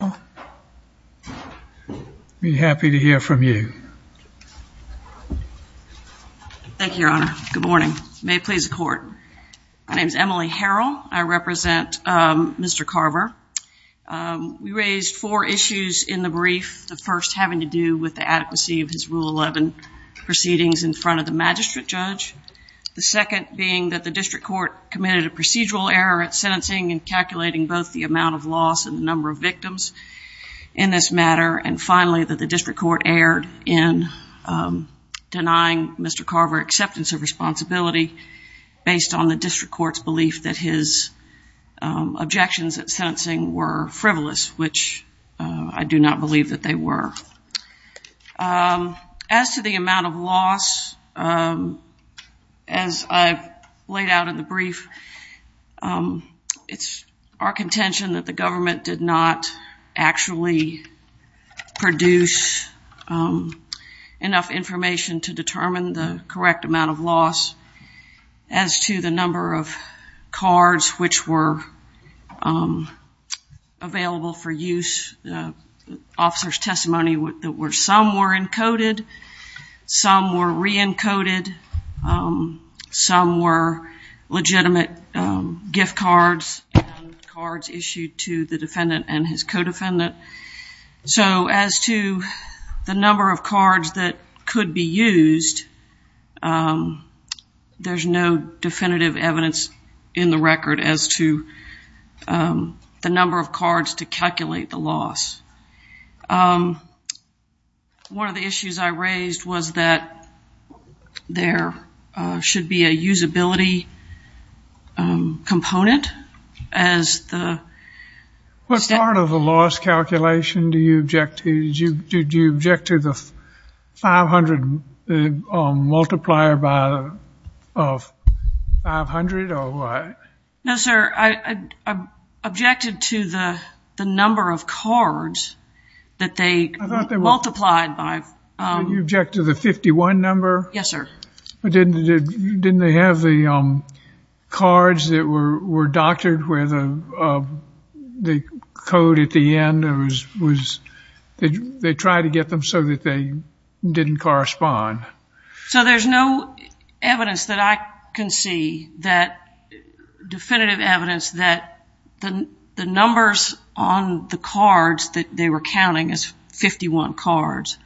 I'll be happy to hear from you. Thank you, Your Honor. Good morning. May it please the court. My name is Emily Harrell. I represent, um, Mr. Carver. Um, we raised four issues in the brief. The first having to do with the adequacy of his rule 11 proceedings in front of the magistrate judge. The second being that the district court committed a procedural error at in this matter, and finally that the district court erred in, um, denying Mr. Carver acceptance of responsibility based on the district court's belief that his, um, objections at sentencing were frivolous, which, uh, I do not believe that they were. Um, as to the amount of loss, um, as I laid out in the brief, um, it's our contention that the government did not actually produce, um, enough information to determine the correct amount of loss. As to the number of cards, which were, um, available for use, uh, officer's testimony that were, some were encoded, some were re-encoded. Um, some were legitimate, um, gift cards and cards issued to the defendant and his co-defendant. So as to the number of cards that could be used, um, there's no definitive evidence in the record as to, um, the number of cards to calculate the loss. Um, one of the issues I raised was that there, uh, should be a usability, um, component as the... What part of the loss calculation do you object to? Did you object to the 500, the multiplier by, of 500 or what? No, sir. I, I objected to the, the number of cards that they multiplied by, um... You objected to the 51 number? Yes, sir. But didn't, didn't they have the, um, cards that were, were doctored where the, uh, the code at the end was, was, they, they tried to get them so that they didn't correspond. So there's no evidence that I can see that definitive evidence that the, the numbers on the cards that they were counting as 51 cards,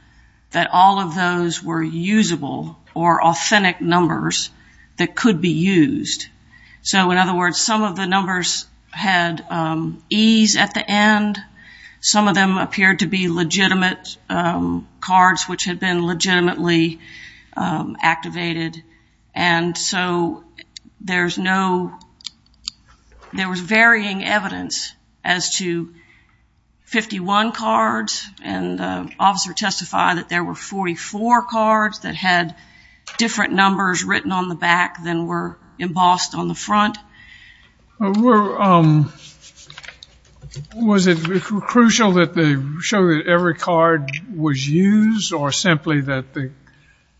that all of those were usable or authentic numbers that could be used, so in other words, some of the numbers had, um, E's at the end. Some of them appeared to be legitimate, um, cards, which had been legitimately, um, activated. And so there's no, there was varying evidence as to 51 cards. And, uh, officer testified that there were 44 cards that had different numbers written on the back than were embossed on the front. Were, um, was it crucial that they show that every card was used or simply that the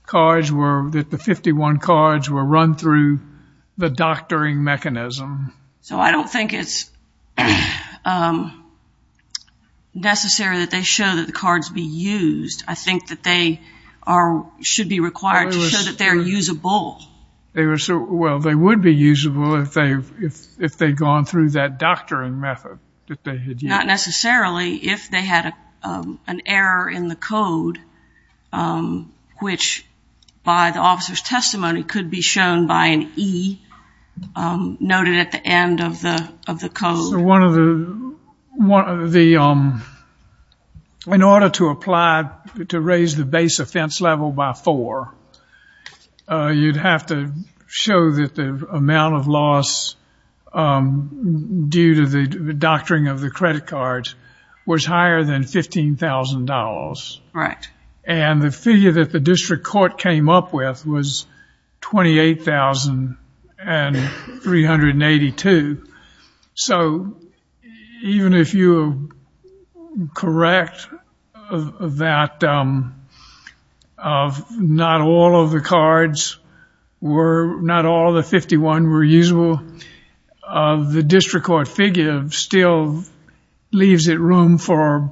cards were, that the 51 cards were run through the doctoring mechanism? So I don't think it's, um, necessary that they show that the cards be used. I think that they are, should be required to show that they're usable. They were so, well, they would be usable if they've, if, if they'd gone through that doctoring method that they had used. Not necessarily if they had, um, an error in the code, um, which by the officer's testimony could be shown by an E, um, noted at the end of the, of the code. So one of the, one of the, um, in order to apply, to raise the base offense level by four, uh, you'd have to show that the amount of loss, um, due to the doctoring of the credit cards was higher than $15,000. Right. And the figure that the district court came up with was $28,382. So even if you correct that, um, of not all of the cards were, not all the 51 were usable, uh, the district court figure still leaves it room for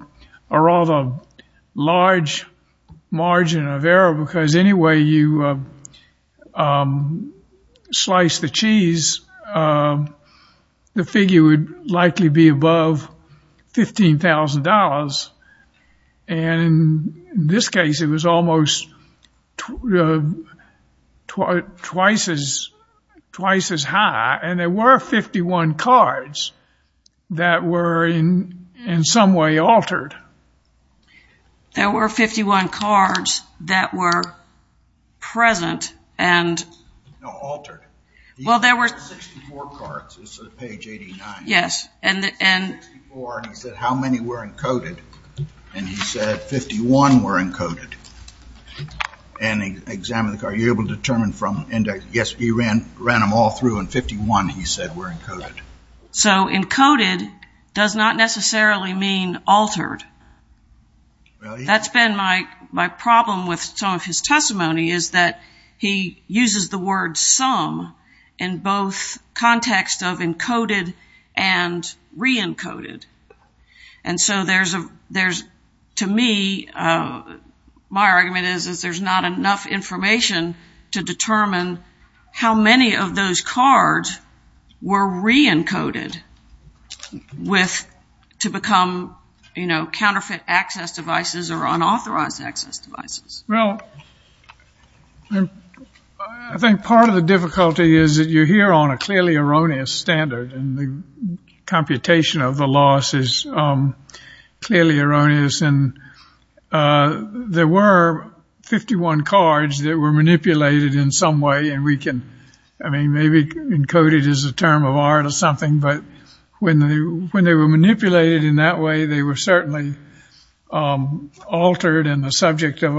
a rather large margin of error because anyway, you, um, slice the cheese, um, the figure would likely be above $15,000. And in this case, it was almost, uh, twice as, twice as high. And there were 51 cards that were in some way altered. There were 51 cards that were present and... No, altered. Well, there were... There were 64 cards. It's on page 89. Yes. And the, and... 64, and he said, how many were encoded? And he said 51 were encoded. And he examined the card. You're able to determine from index, yes, he ran, ran them all through and 51, he said, were encoded. So encoded does not necessarily mean altered. That's been my, my problem with some of his testimony is that he uses the word sum in both context of encoded and re-encoded. And so there's a, there's, to me, uh, my argument is, is there's not enough information to determine how many of those cards were re-encoded with, to become, you know, counterfeit access devices or unauthorized access devices. Well, I think part of the difficulty is that you're here on a clearly erroneous standard and the computation of the loss is, um, clearly erroneous. And, uh, there were 51 cards that were manipulated in some way. And we can, I mean, maybe encoded is a term of art or something, but when they, when they were manipulated in that way, they were certainly, um, altered and the subject of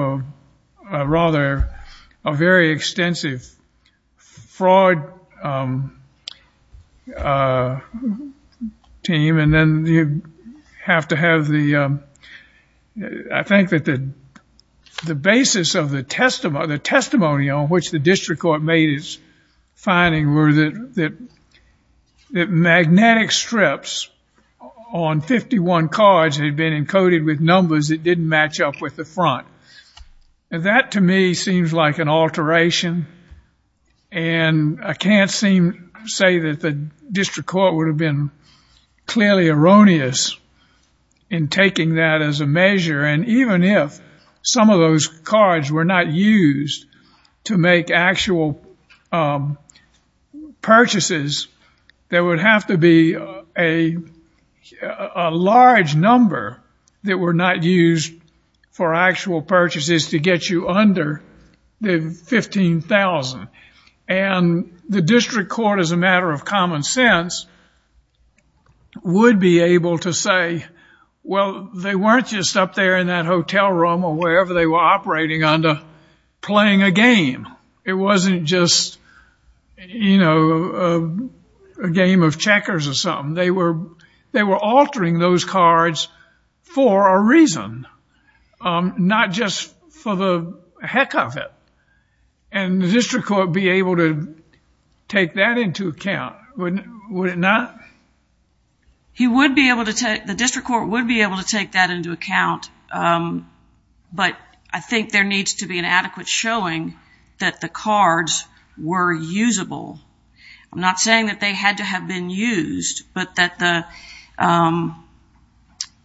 a rather, a very extensive fraud, um, uh, team. And then you have to have the, um, I think that the, the basis of the testimony, the testimony on which the district court made its finding were that, that, that magnetic strips on 51 cards had been encoded with numbers that didn't match up with the front. And that to me seems like an alteration. And I can't seem to say that the district court would have been clearly erroneous in taking that as a measure. And even if some of those cards were not used to make actual, um, purchases, there would have to be a, a large number that were not used for actual purchases to get you under the 15,000. And the district court, as a matter of common sense, would be able to say, well, they weren't just up there in that hotel room or wherever they were operating under playing a game. It wasn't just, you know, a game of checkers or something. They were, they were altering those cards for a reason. Um, not just for the heck of it. And the district court be able to take that into account, wouldn't, would it not? He would be able to take, the district court would be able to take that into account, um, but I think there needs to be an adequate showing that the cards were usable. I'm not saying that they had to have been used, but that the, um,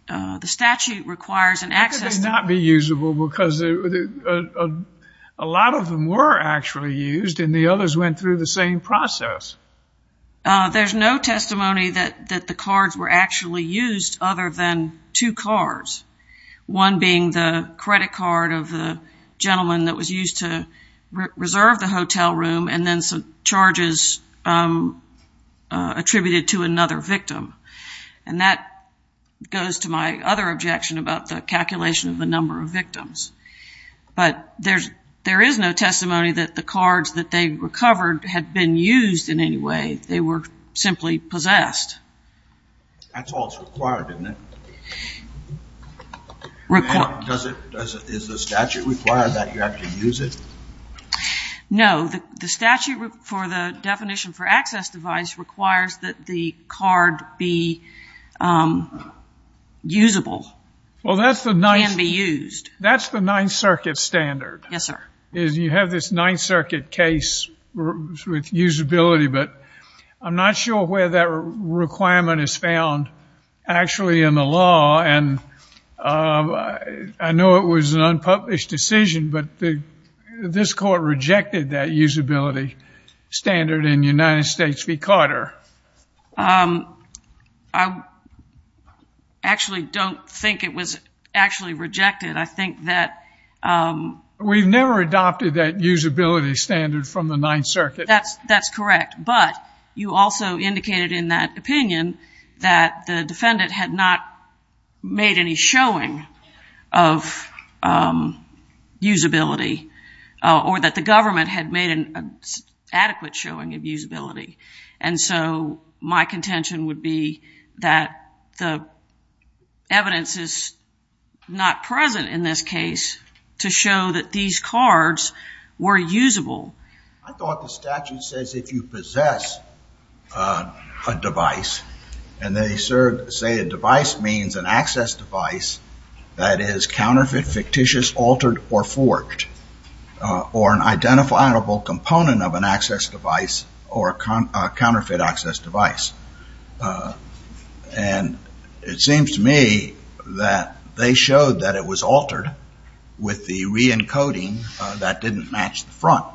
uh, the statute requires an access... How could they not be usable? Because a lot of them were actually used and the others went through the same process. Uh, there's no testimony that, that the cards were actually used other than two cards, one being the credit card of the gentleman that was used to reserve the hotel room and then some charges, um, uh, attributed to another victim. And that goes to my other objection about the calculation of the number of victims. But there's, there is no testimony that the cards that they recovered had been used in any way. They were simply possessed. That's all that's required, isn't it? Does it, does it, is the statute require that you have to use it? No, the statute for the definition for access device requires that the card be, um, usable. Well, that's the ninth... Can be used. That's the ninth circuit standard. Yes, sir. Is you have this ninth circuit case with usability, but I'm not sure where that requirement is found actually in the law. And, um, I know it was an unpublished decision, but the, this court rejected that usability standard in United States v. Carter. Um, I actually don't think it was actually rejected. I think that, um... We've never adopted that usability standard from the ninth circuit. That's, that's correct. But you also indicated in that opinion that the defendant had not made any showing of, um, usability, uh, or that the government had made an adequate showing of usability. And so my contention would be that the evidence is not present in this case to show that these cards were usable. I thought the statute says if you possess, uh, a device and they serve, say a device means an access device that is counterfeit, fictitious, altered, or forged, uh, or an identifiable component of an access device or a counterfeit access device. Uh, and it seems to me that they showed that it was altered with the re-encoding, uh, that didn't match the front.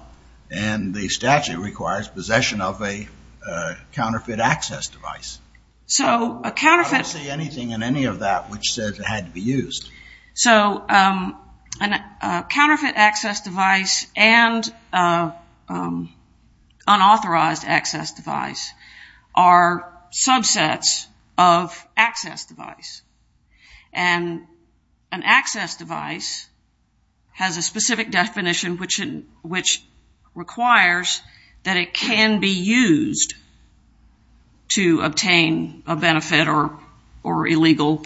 And the statute requires possession of a, uh, counterfeit access device. So a counterfeit... I don't see anything in any of that which says it had to be used. So, um, a counterfeit access device and, uh, um, unauthorized access device are subsets of access device. And an access device has a specific definition which, uh, which requires that it can be used to obtain a benefit or, or illegal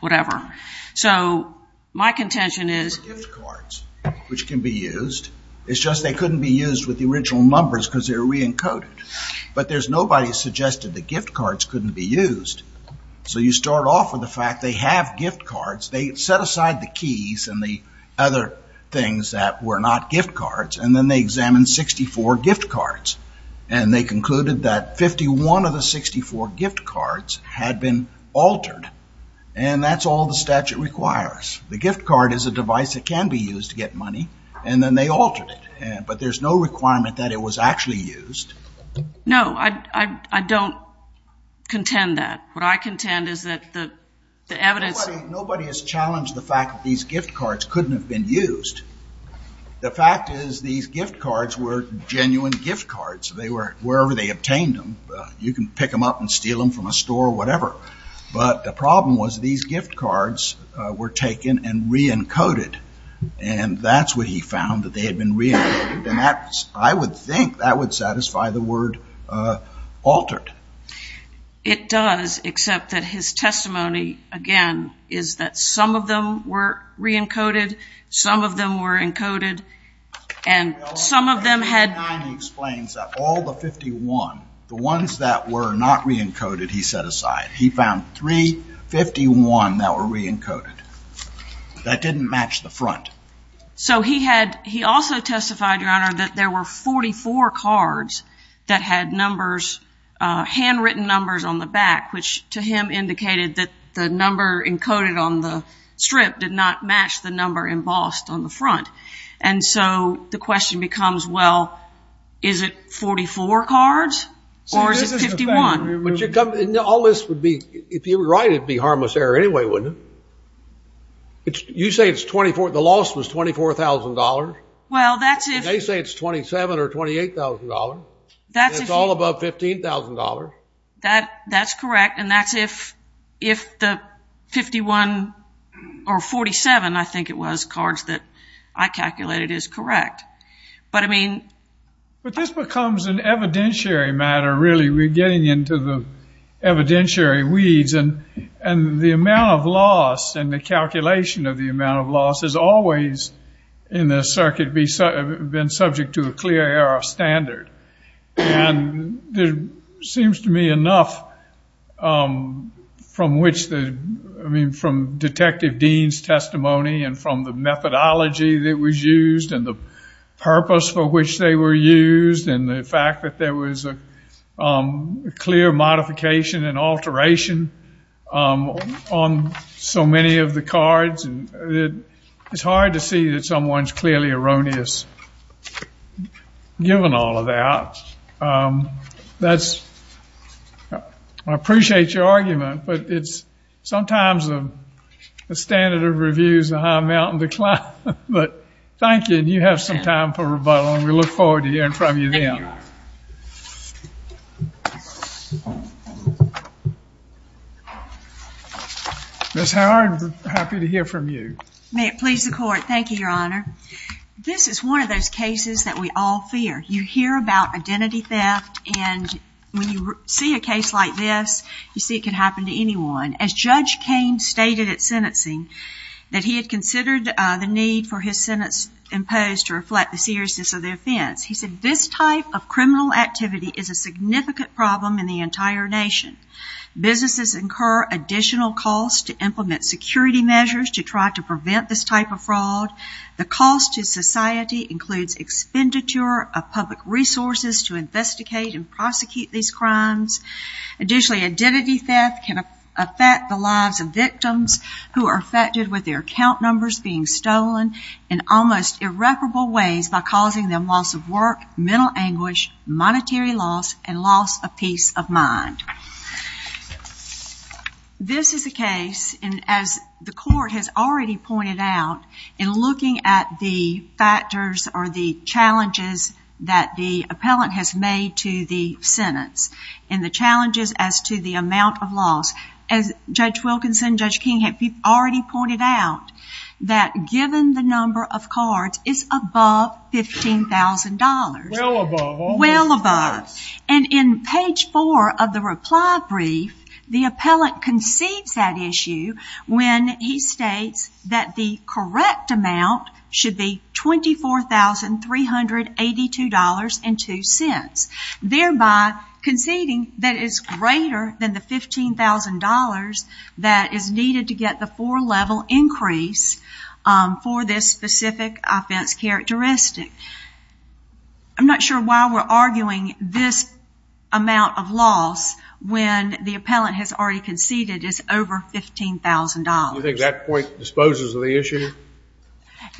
whatever. So my contention is... ...gift cards which can be used. It's just they couldn't be used with the original numbers because they're re-encoded. But there's nobody suggested the gift cards couldn't be used. So you start off with the fact they have gift cards. They set aside the keys and the other things that were not gift cards. And then they examined 64 gift cards. And they concluded that 51 of the 64 gift cards had been altered. And that's all the statute requires. The gift card is a device that can be used to get money. And then they altered it. But there's no requirement that it was actually used. No, I, I, I don't contend that. What I contend is that the evidence... Nobody has challenged the fact that these gift cards couldn't have been used. The fact is these gift cards were genuine gift cards. They were wherever they obtained them. You can pick them up and steal them from a store or whatever. But the problem was these gift cards were taken and re-encoded. And that's what he found that they had been re-encoded. And that's, I would think that would satisfy the word altered. It does, except that his testimony, again, is that some of them were re-encoded. Some of them were encoded. And some of them had... He explains that all the 51, the ones that were not re-encoded, he set aside. He found three 51 that were re-encoded. That didn't match the front. So he had, he also testified, Your Honor, that there were 44 cards that had numbers, uh, handwritten numbers on the back, which to him indicated that the number encoded on the strip did not match the number embossed on the front. And so the question becomes, well, is it 44 cards or is it 51? But you're coming... All this would be, if you were right, it'd be harmless error anyway, wouldn't it? You say it's 24, the loss was $24,000. Well, that's if... They say it's $27,000 or $28,000. That's if... And it's all above $15,000. That, that's correct. And that's if, if the 51 or 47, I think it was, cards that I calculated is correct. But I mean... But this becomes an evidentiary matter, really. We're getting into the evidentiary weeds. And the amount of loss and the calculation of the amount of loss has always, in this circuit, been subject to a clear error of standard. And there seems to me enough, um, from which the... I mean, from Detective Dean's testimony and from the methodology that was used and the purpose for which they were used, and the fact that there was a clear modification and alteration on so many of the cards. And it's hard to see that someone's clearly erroneous, given all of that. That's... I appreciate your argument, but it's sometimes a standard of reviews, a high mountain to climb. But thank you. And you have some time for rebuttal. And we look forward to hearing from you then. Ms. Howard, I'm happy to hear from you. May it please the Court. Thank you, Your Honor. This is one of those cases that we all fear. You hear about identity theft, and when you see a case like this, you see it can happen to anyone. As Judge Cain stated at sentencing, that he had considered the need for his sentence imposed to reflect the seriousness of the offense. This type of criminal activity is a significant problem in the entire nation. Businesses incur additional costs to implement security measures to try to prevent this type of fraud. The cost to society includes expenditure of public resources to investigate and prosecute these crimes. Additionally, identity theft can affect the lives of victims who are affected with their account numbers being stolen in almost irreparable ways by causing them loss of work, mental anguish, monetary loss, and loss of peace of mind. This is a case, and as the Court has already pointed out, in looking at the factors or the challenges that the appellant has made to the sentence, and the challenges as to the amount of loss, as Judge Wilkinson, Judge King have already pointed out, that given the number of cards is above $15,000. Well above. Well above. And in page four of the reply brief, the appellant concedes that issue when he states that the correct amount should be $24,382.02, thereby conceding that it is greater than the $15,000 that is needed to get the four-level increase for this specific offense characteristic. I'm not sure why we're arguing this amount of loss when the appellant has already conceded it's over $15,000. Do you think that point disposes of the issue?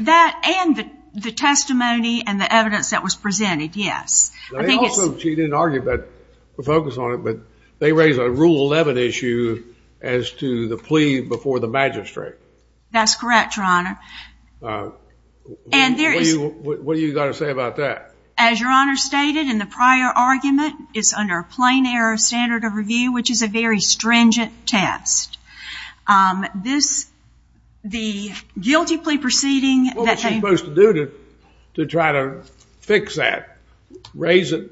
That and the testimony and the evidence that was presented, yes. She didn't argue but focus on it, but they raise a rule 11 issue as to the plea before the magistrate. That's correct, Your Honor. And there is... What do you got to say about that? As Your Honor stated in the prior argument, it's under a plain error standard of review, which is a very stringent test. This, the guilty plea proceeding... What was she supposed to do to try to fix that? Raise it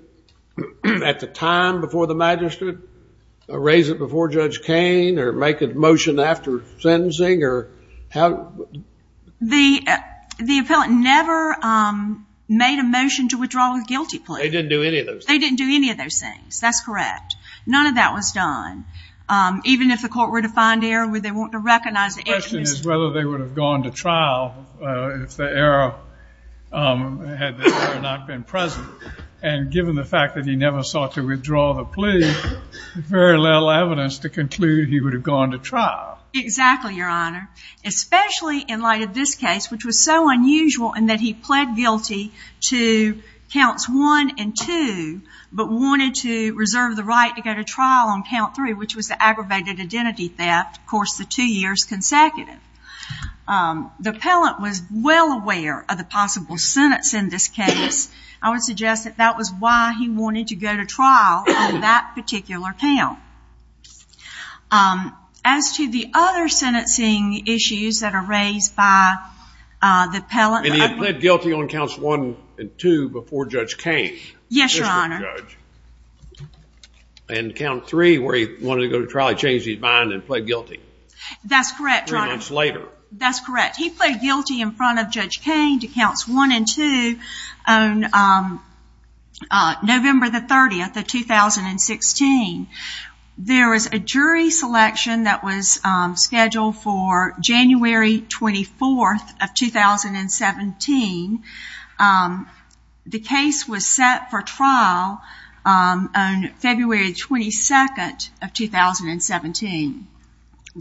at the time before the magistrate? Raise it before Judge Kain? Or make a motion after sentencing? The appellant never made a motion to withdraw the guilty plea. They didn't do any of those. They didn't do any of those things. That's correct. None of that was done. Even if the court were to find error, would they want to recognize... The question is whether they would have gone to trial if the error had not been present. And given the fact that he never sought to withdraw the plea, very little evidence to conclude he would have gone to trial. Exactly, Your Honor. Especially in light of this case, which was so unusual in that he pled guilty to counts one and two, but wanted to reserve the right to go to trial on count three, which was the aggravated identity theft, of course, the two years consecutive. The appellant was well aware of the possible sentence in this case. I would suggest that that was why he wanted to go to trial on that particular count. As to the other sentencing issues that are raised by the appellant... And he pled guilty on counts one and two before Judge Kain? Yes, Your Honor. And count three, where he wanted to go to trial, That's correct, Your Honor. That's correct. He pled guilty in front of Judge Kain to counts one and two on November the 30th of 2016. There was a jury selection that was scheduled for January 24th of 2017. The case was set for trial on February 22nd of 2017,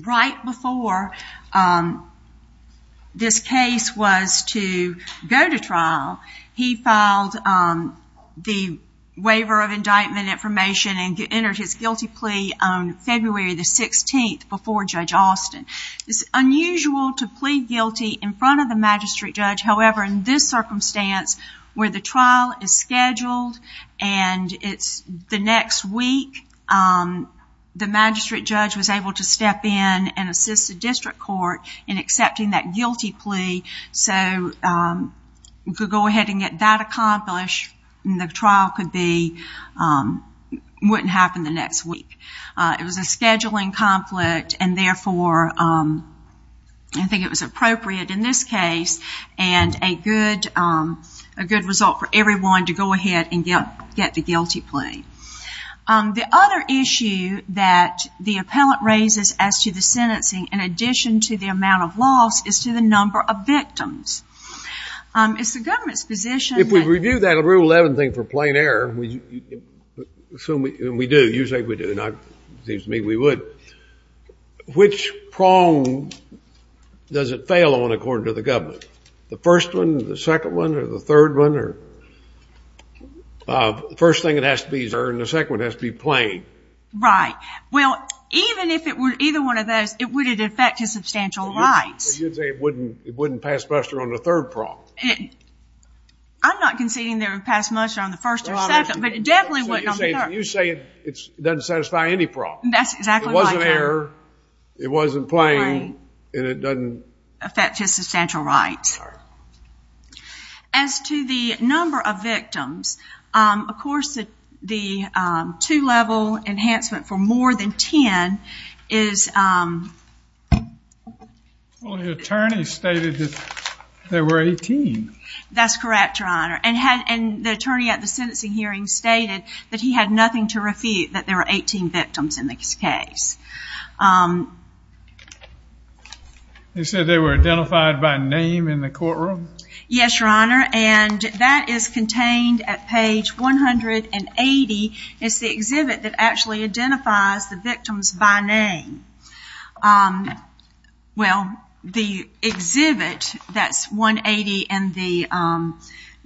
right before this case was to go to trial. He filed the waiver of indictment information and entered his guilty plea on February the 16th before Judge Austin. It's unusual to plead guilty in front of the magistrate judge. However, in this circumstance where the trial is scheduled and it's the next week, the magistrate judge was able to step in and assist the district court in accepting that guilty plea. So we could go ahead and get that accomplished and the trial wouldn't happen the next week. It was a scheduling conflict and therefore I think it was appropriate in this case and a good result for everyone to go ahead and get the guilty plea. The other issue that the appellant raises as to the sentencing, in addition to the amount of loss, is to the number of victims. It's the government's position that- If we review that Rule 11 thing for plain error, assume we do, usually we do, it seems to me we would, which prong does it fail on according to the government? The first one, the second one, or the third one? The first thing it has to be is error and the second one has to be plain. Right. Well, even if it were either one of those, would it affect his substantial rights? You'd say it wouldn't pass muster on the third prong. I'm not conceding that it would pass muster on the first or second, but it definitely wouldn't on the third. You're saying it doesn't satisfy any prong. That's exactly right. It wasn't error, it wasn't plain, and it doesn't- Affect his substantial rights. Sorry. As to the number of victims, of course, the two-level enhancement for more than 10 is- Well, the attorney stated that there were 18. That's correct, Your Honor, and the attorney at the sentencing hearing stated that he had nothing to refute, that there were 18 victims in this case. They said they were identified by name in the courtroom? Yes, Your Honor, and that is contained at page 180. It's the exhibit that actually identifies the victims by name. Well, the exhibit, that's 180, and the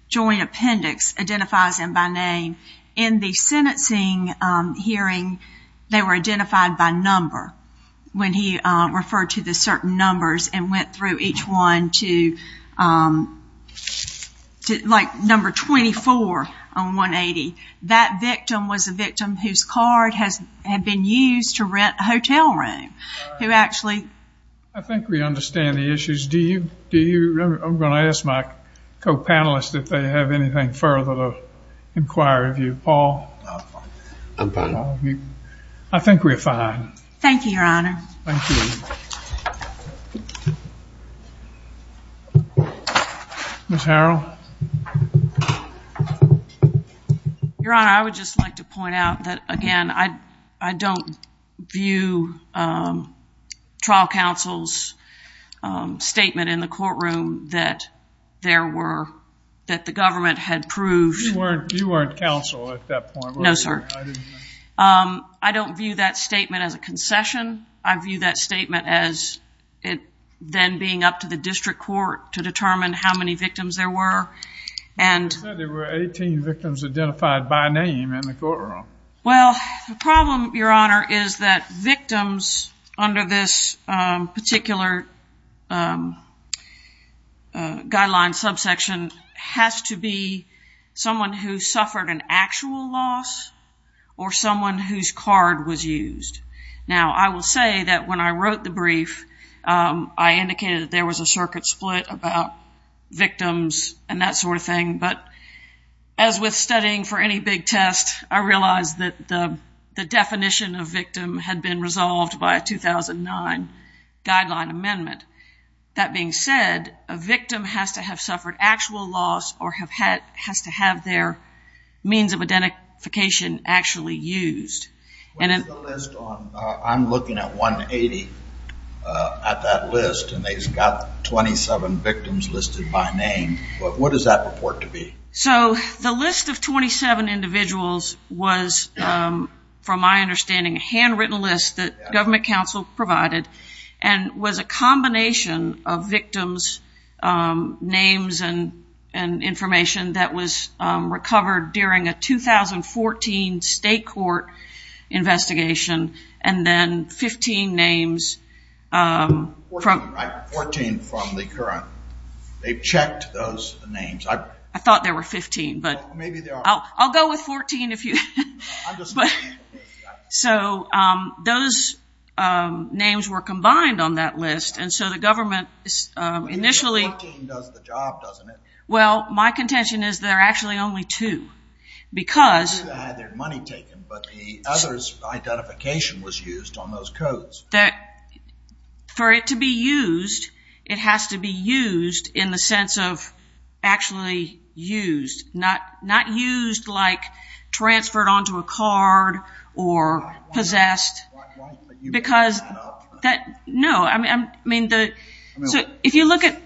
joint appendix identifies them by name. In the sentencing hearing, they were identified by name. When he referred to the certain numbers and went through each one to number 24 on 180, that victim was a victim whose card had been used to rent a hotel room, who actually- I think we understand the issues. I'm going to ask my co-panelists if they have anything further to inquire of you. Paul? I think we're fine. Thank you, Your Honor. Thank you. Ms. Harrell? Your Honor, I would just like to point out that, again, I don't view trial counsel's statement in the courtroom that the government had proved- You weren't counsel at that point, were you? No, sir. I don't view that statement as a concession. I view that statement as it then being up to the district court to determine how many victims there were, and- You said there were 18 victims identified by name in the courtroom. Well, the problem, Your Honor, is that victims under this particular guideline subsection has to be someone who suffered an actual loss or someone whose card was used. Now, I will say that when I wrote the brief, I indicated that there was a circuit split about victims and that sort of thing, but as with studying for any big test, I realized that the definition of victim had been resolved by a 2009 guideline amendment. That being said, a victim has to have suffered actual loss or has to have their means of identification actually used. What is the list on? I'm looking at 180 at that list, and they've got 27 victims listed by name, but what does that report to be? So the list of 27 individuals was, from my understanding, a handwritten list that government counsel provided, and was a combination of victims' names and information that was recovered during a 2014 state court investigation, and then 15 names from- 14, right? 14 from the current. They've checked those names. I thought there were 15, but- Maybe there are. I'll go with 14 if you- But, so those names were combined on that list, and so the government initially- 14 does the job, doesn't it? Well, my contention is there are actually only two, because- They had their money taken, but the others' identification was used on those codes. For it to be used, it has to be used in the sense of actually used, not used like transferred onto a card or possessed, because that- No, I mean, if you look at-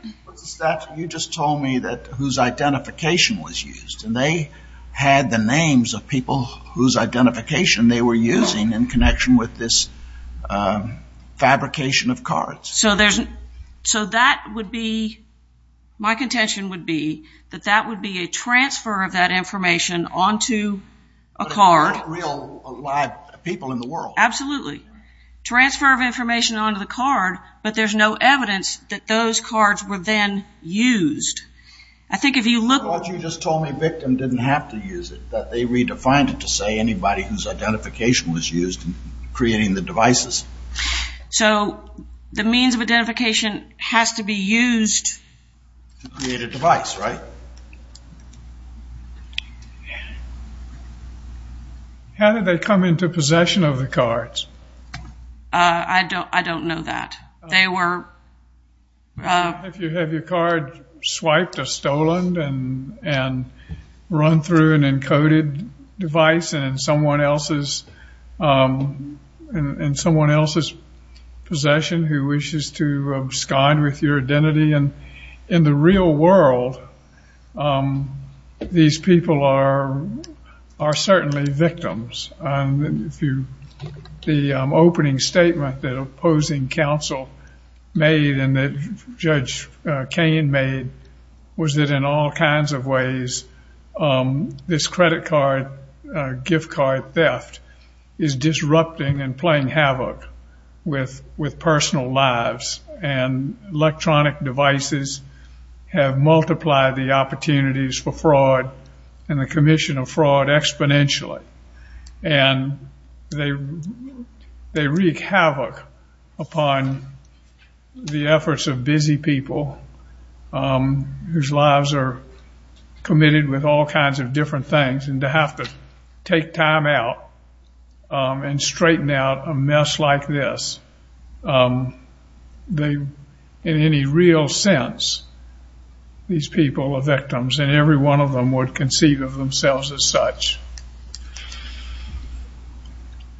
You just told me that whose identification was used, and they had the names of people whose identification they were using in connection with this fabrication of cards. So that would be, my contention would be that that would be a transfer of that information onto a card- Real, live people in the world. Absolutely. Transfer of information onto the card, but there's no evidence that those cards were then used. I think if you look- I thought you just told me victim didn't have to use it, that they redefined it to say anybody whose identification was used in creating the devices. So the means of identification has to be used- To create a device, right? Yeah. How did they come into possession of the cards? I don't know that. They were- If you have your card swiped or stolen and run through an encoded device and in someone else's possession who wishes to abscond with your identity. In the real world, these people are certainly victims. The opening statement that opposing counsel made and that Judge Kane made was that in all kinds of ways, this credit card, gift card theft is disrupting and playing havoc with personal lives. And electronic devices have multiplied the opportunities for fraud and the commission of fraud exponentially. And they wreak havoc upon the efforts of busy people whose lives are committed with all this. In any real sense, these people are victims and every one of them would conceive of themselves as such.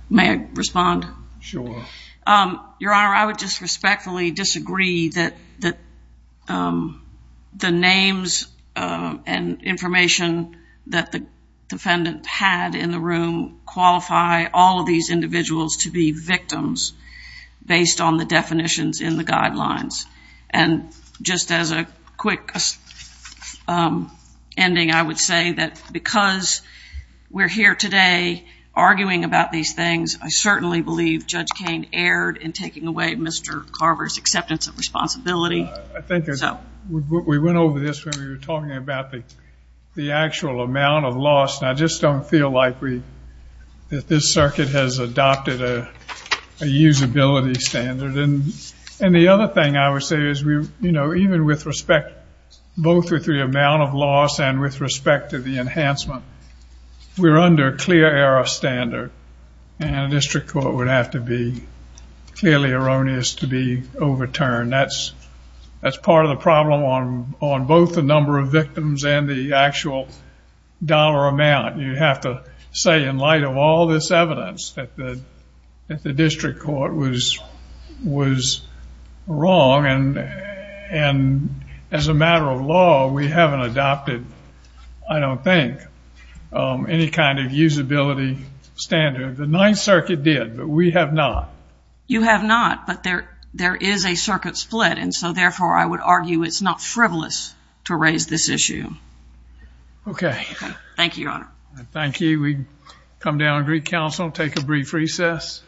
May I respond? Sure. Your Honor, I would just respectfully disagree that the names and information that the defendant had in the room qualify all of these individuals to be victims based on the definitions in the guidelines. And just as a quick ending, I would say that because we're here today arguing about these things, I certainly believe Judge Kane erred in taking away Mr. Carver's acceptance of responsibility. I think we went over this when we were talking about the actual amount of loss. And I just don't feel like we, that this circuit has adopted a usability standard. And the other thing I would say is, you know, even with respect, both with the amount of loss and with respect to the enhancement, we're under clear error standard. And a district court would have to be clearly erroneous to be overturned. That's part of the problem on both the number of victims and the actual dollar amount. You have to say in light of all this evidence that the district court was wrong. And as a matter of law, we haven't adopted, I don't think, any kind of usability standard. The Ninth Circuit did, but we have not. You have not, but there is a circuit split. And so therefore, I would argue it's not frivolous to raise this issue. Thank you, Your Honor. Thank you. We come down and recounsel, take a brief recess.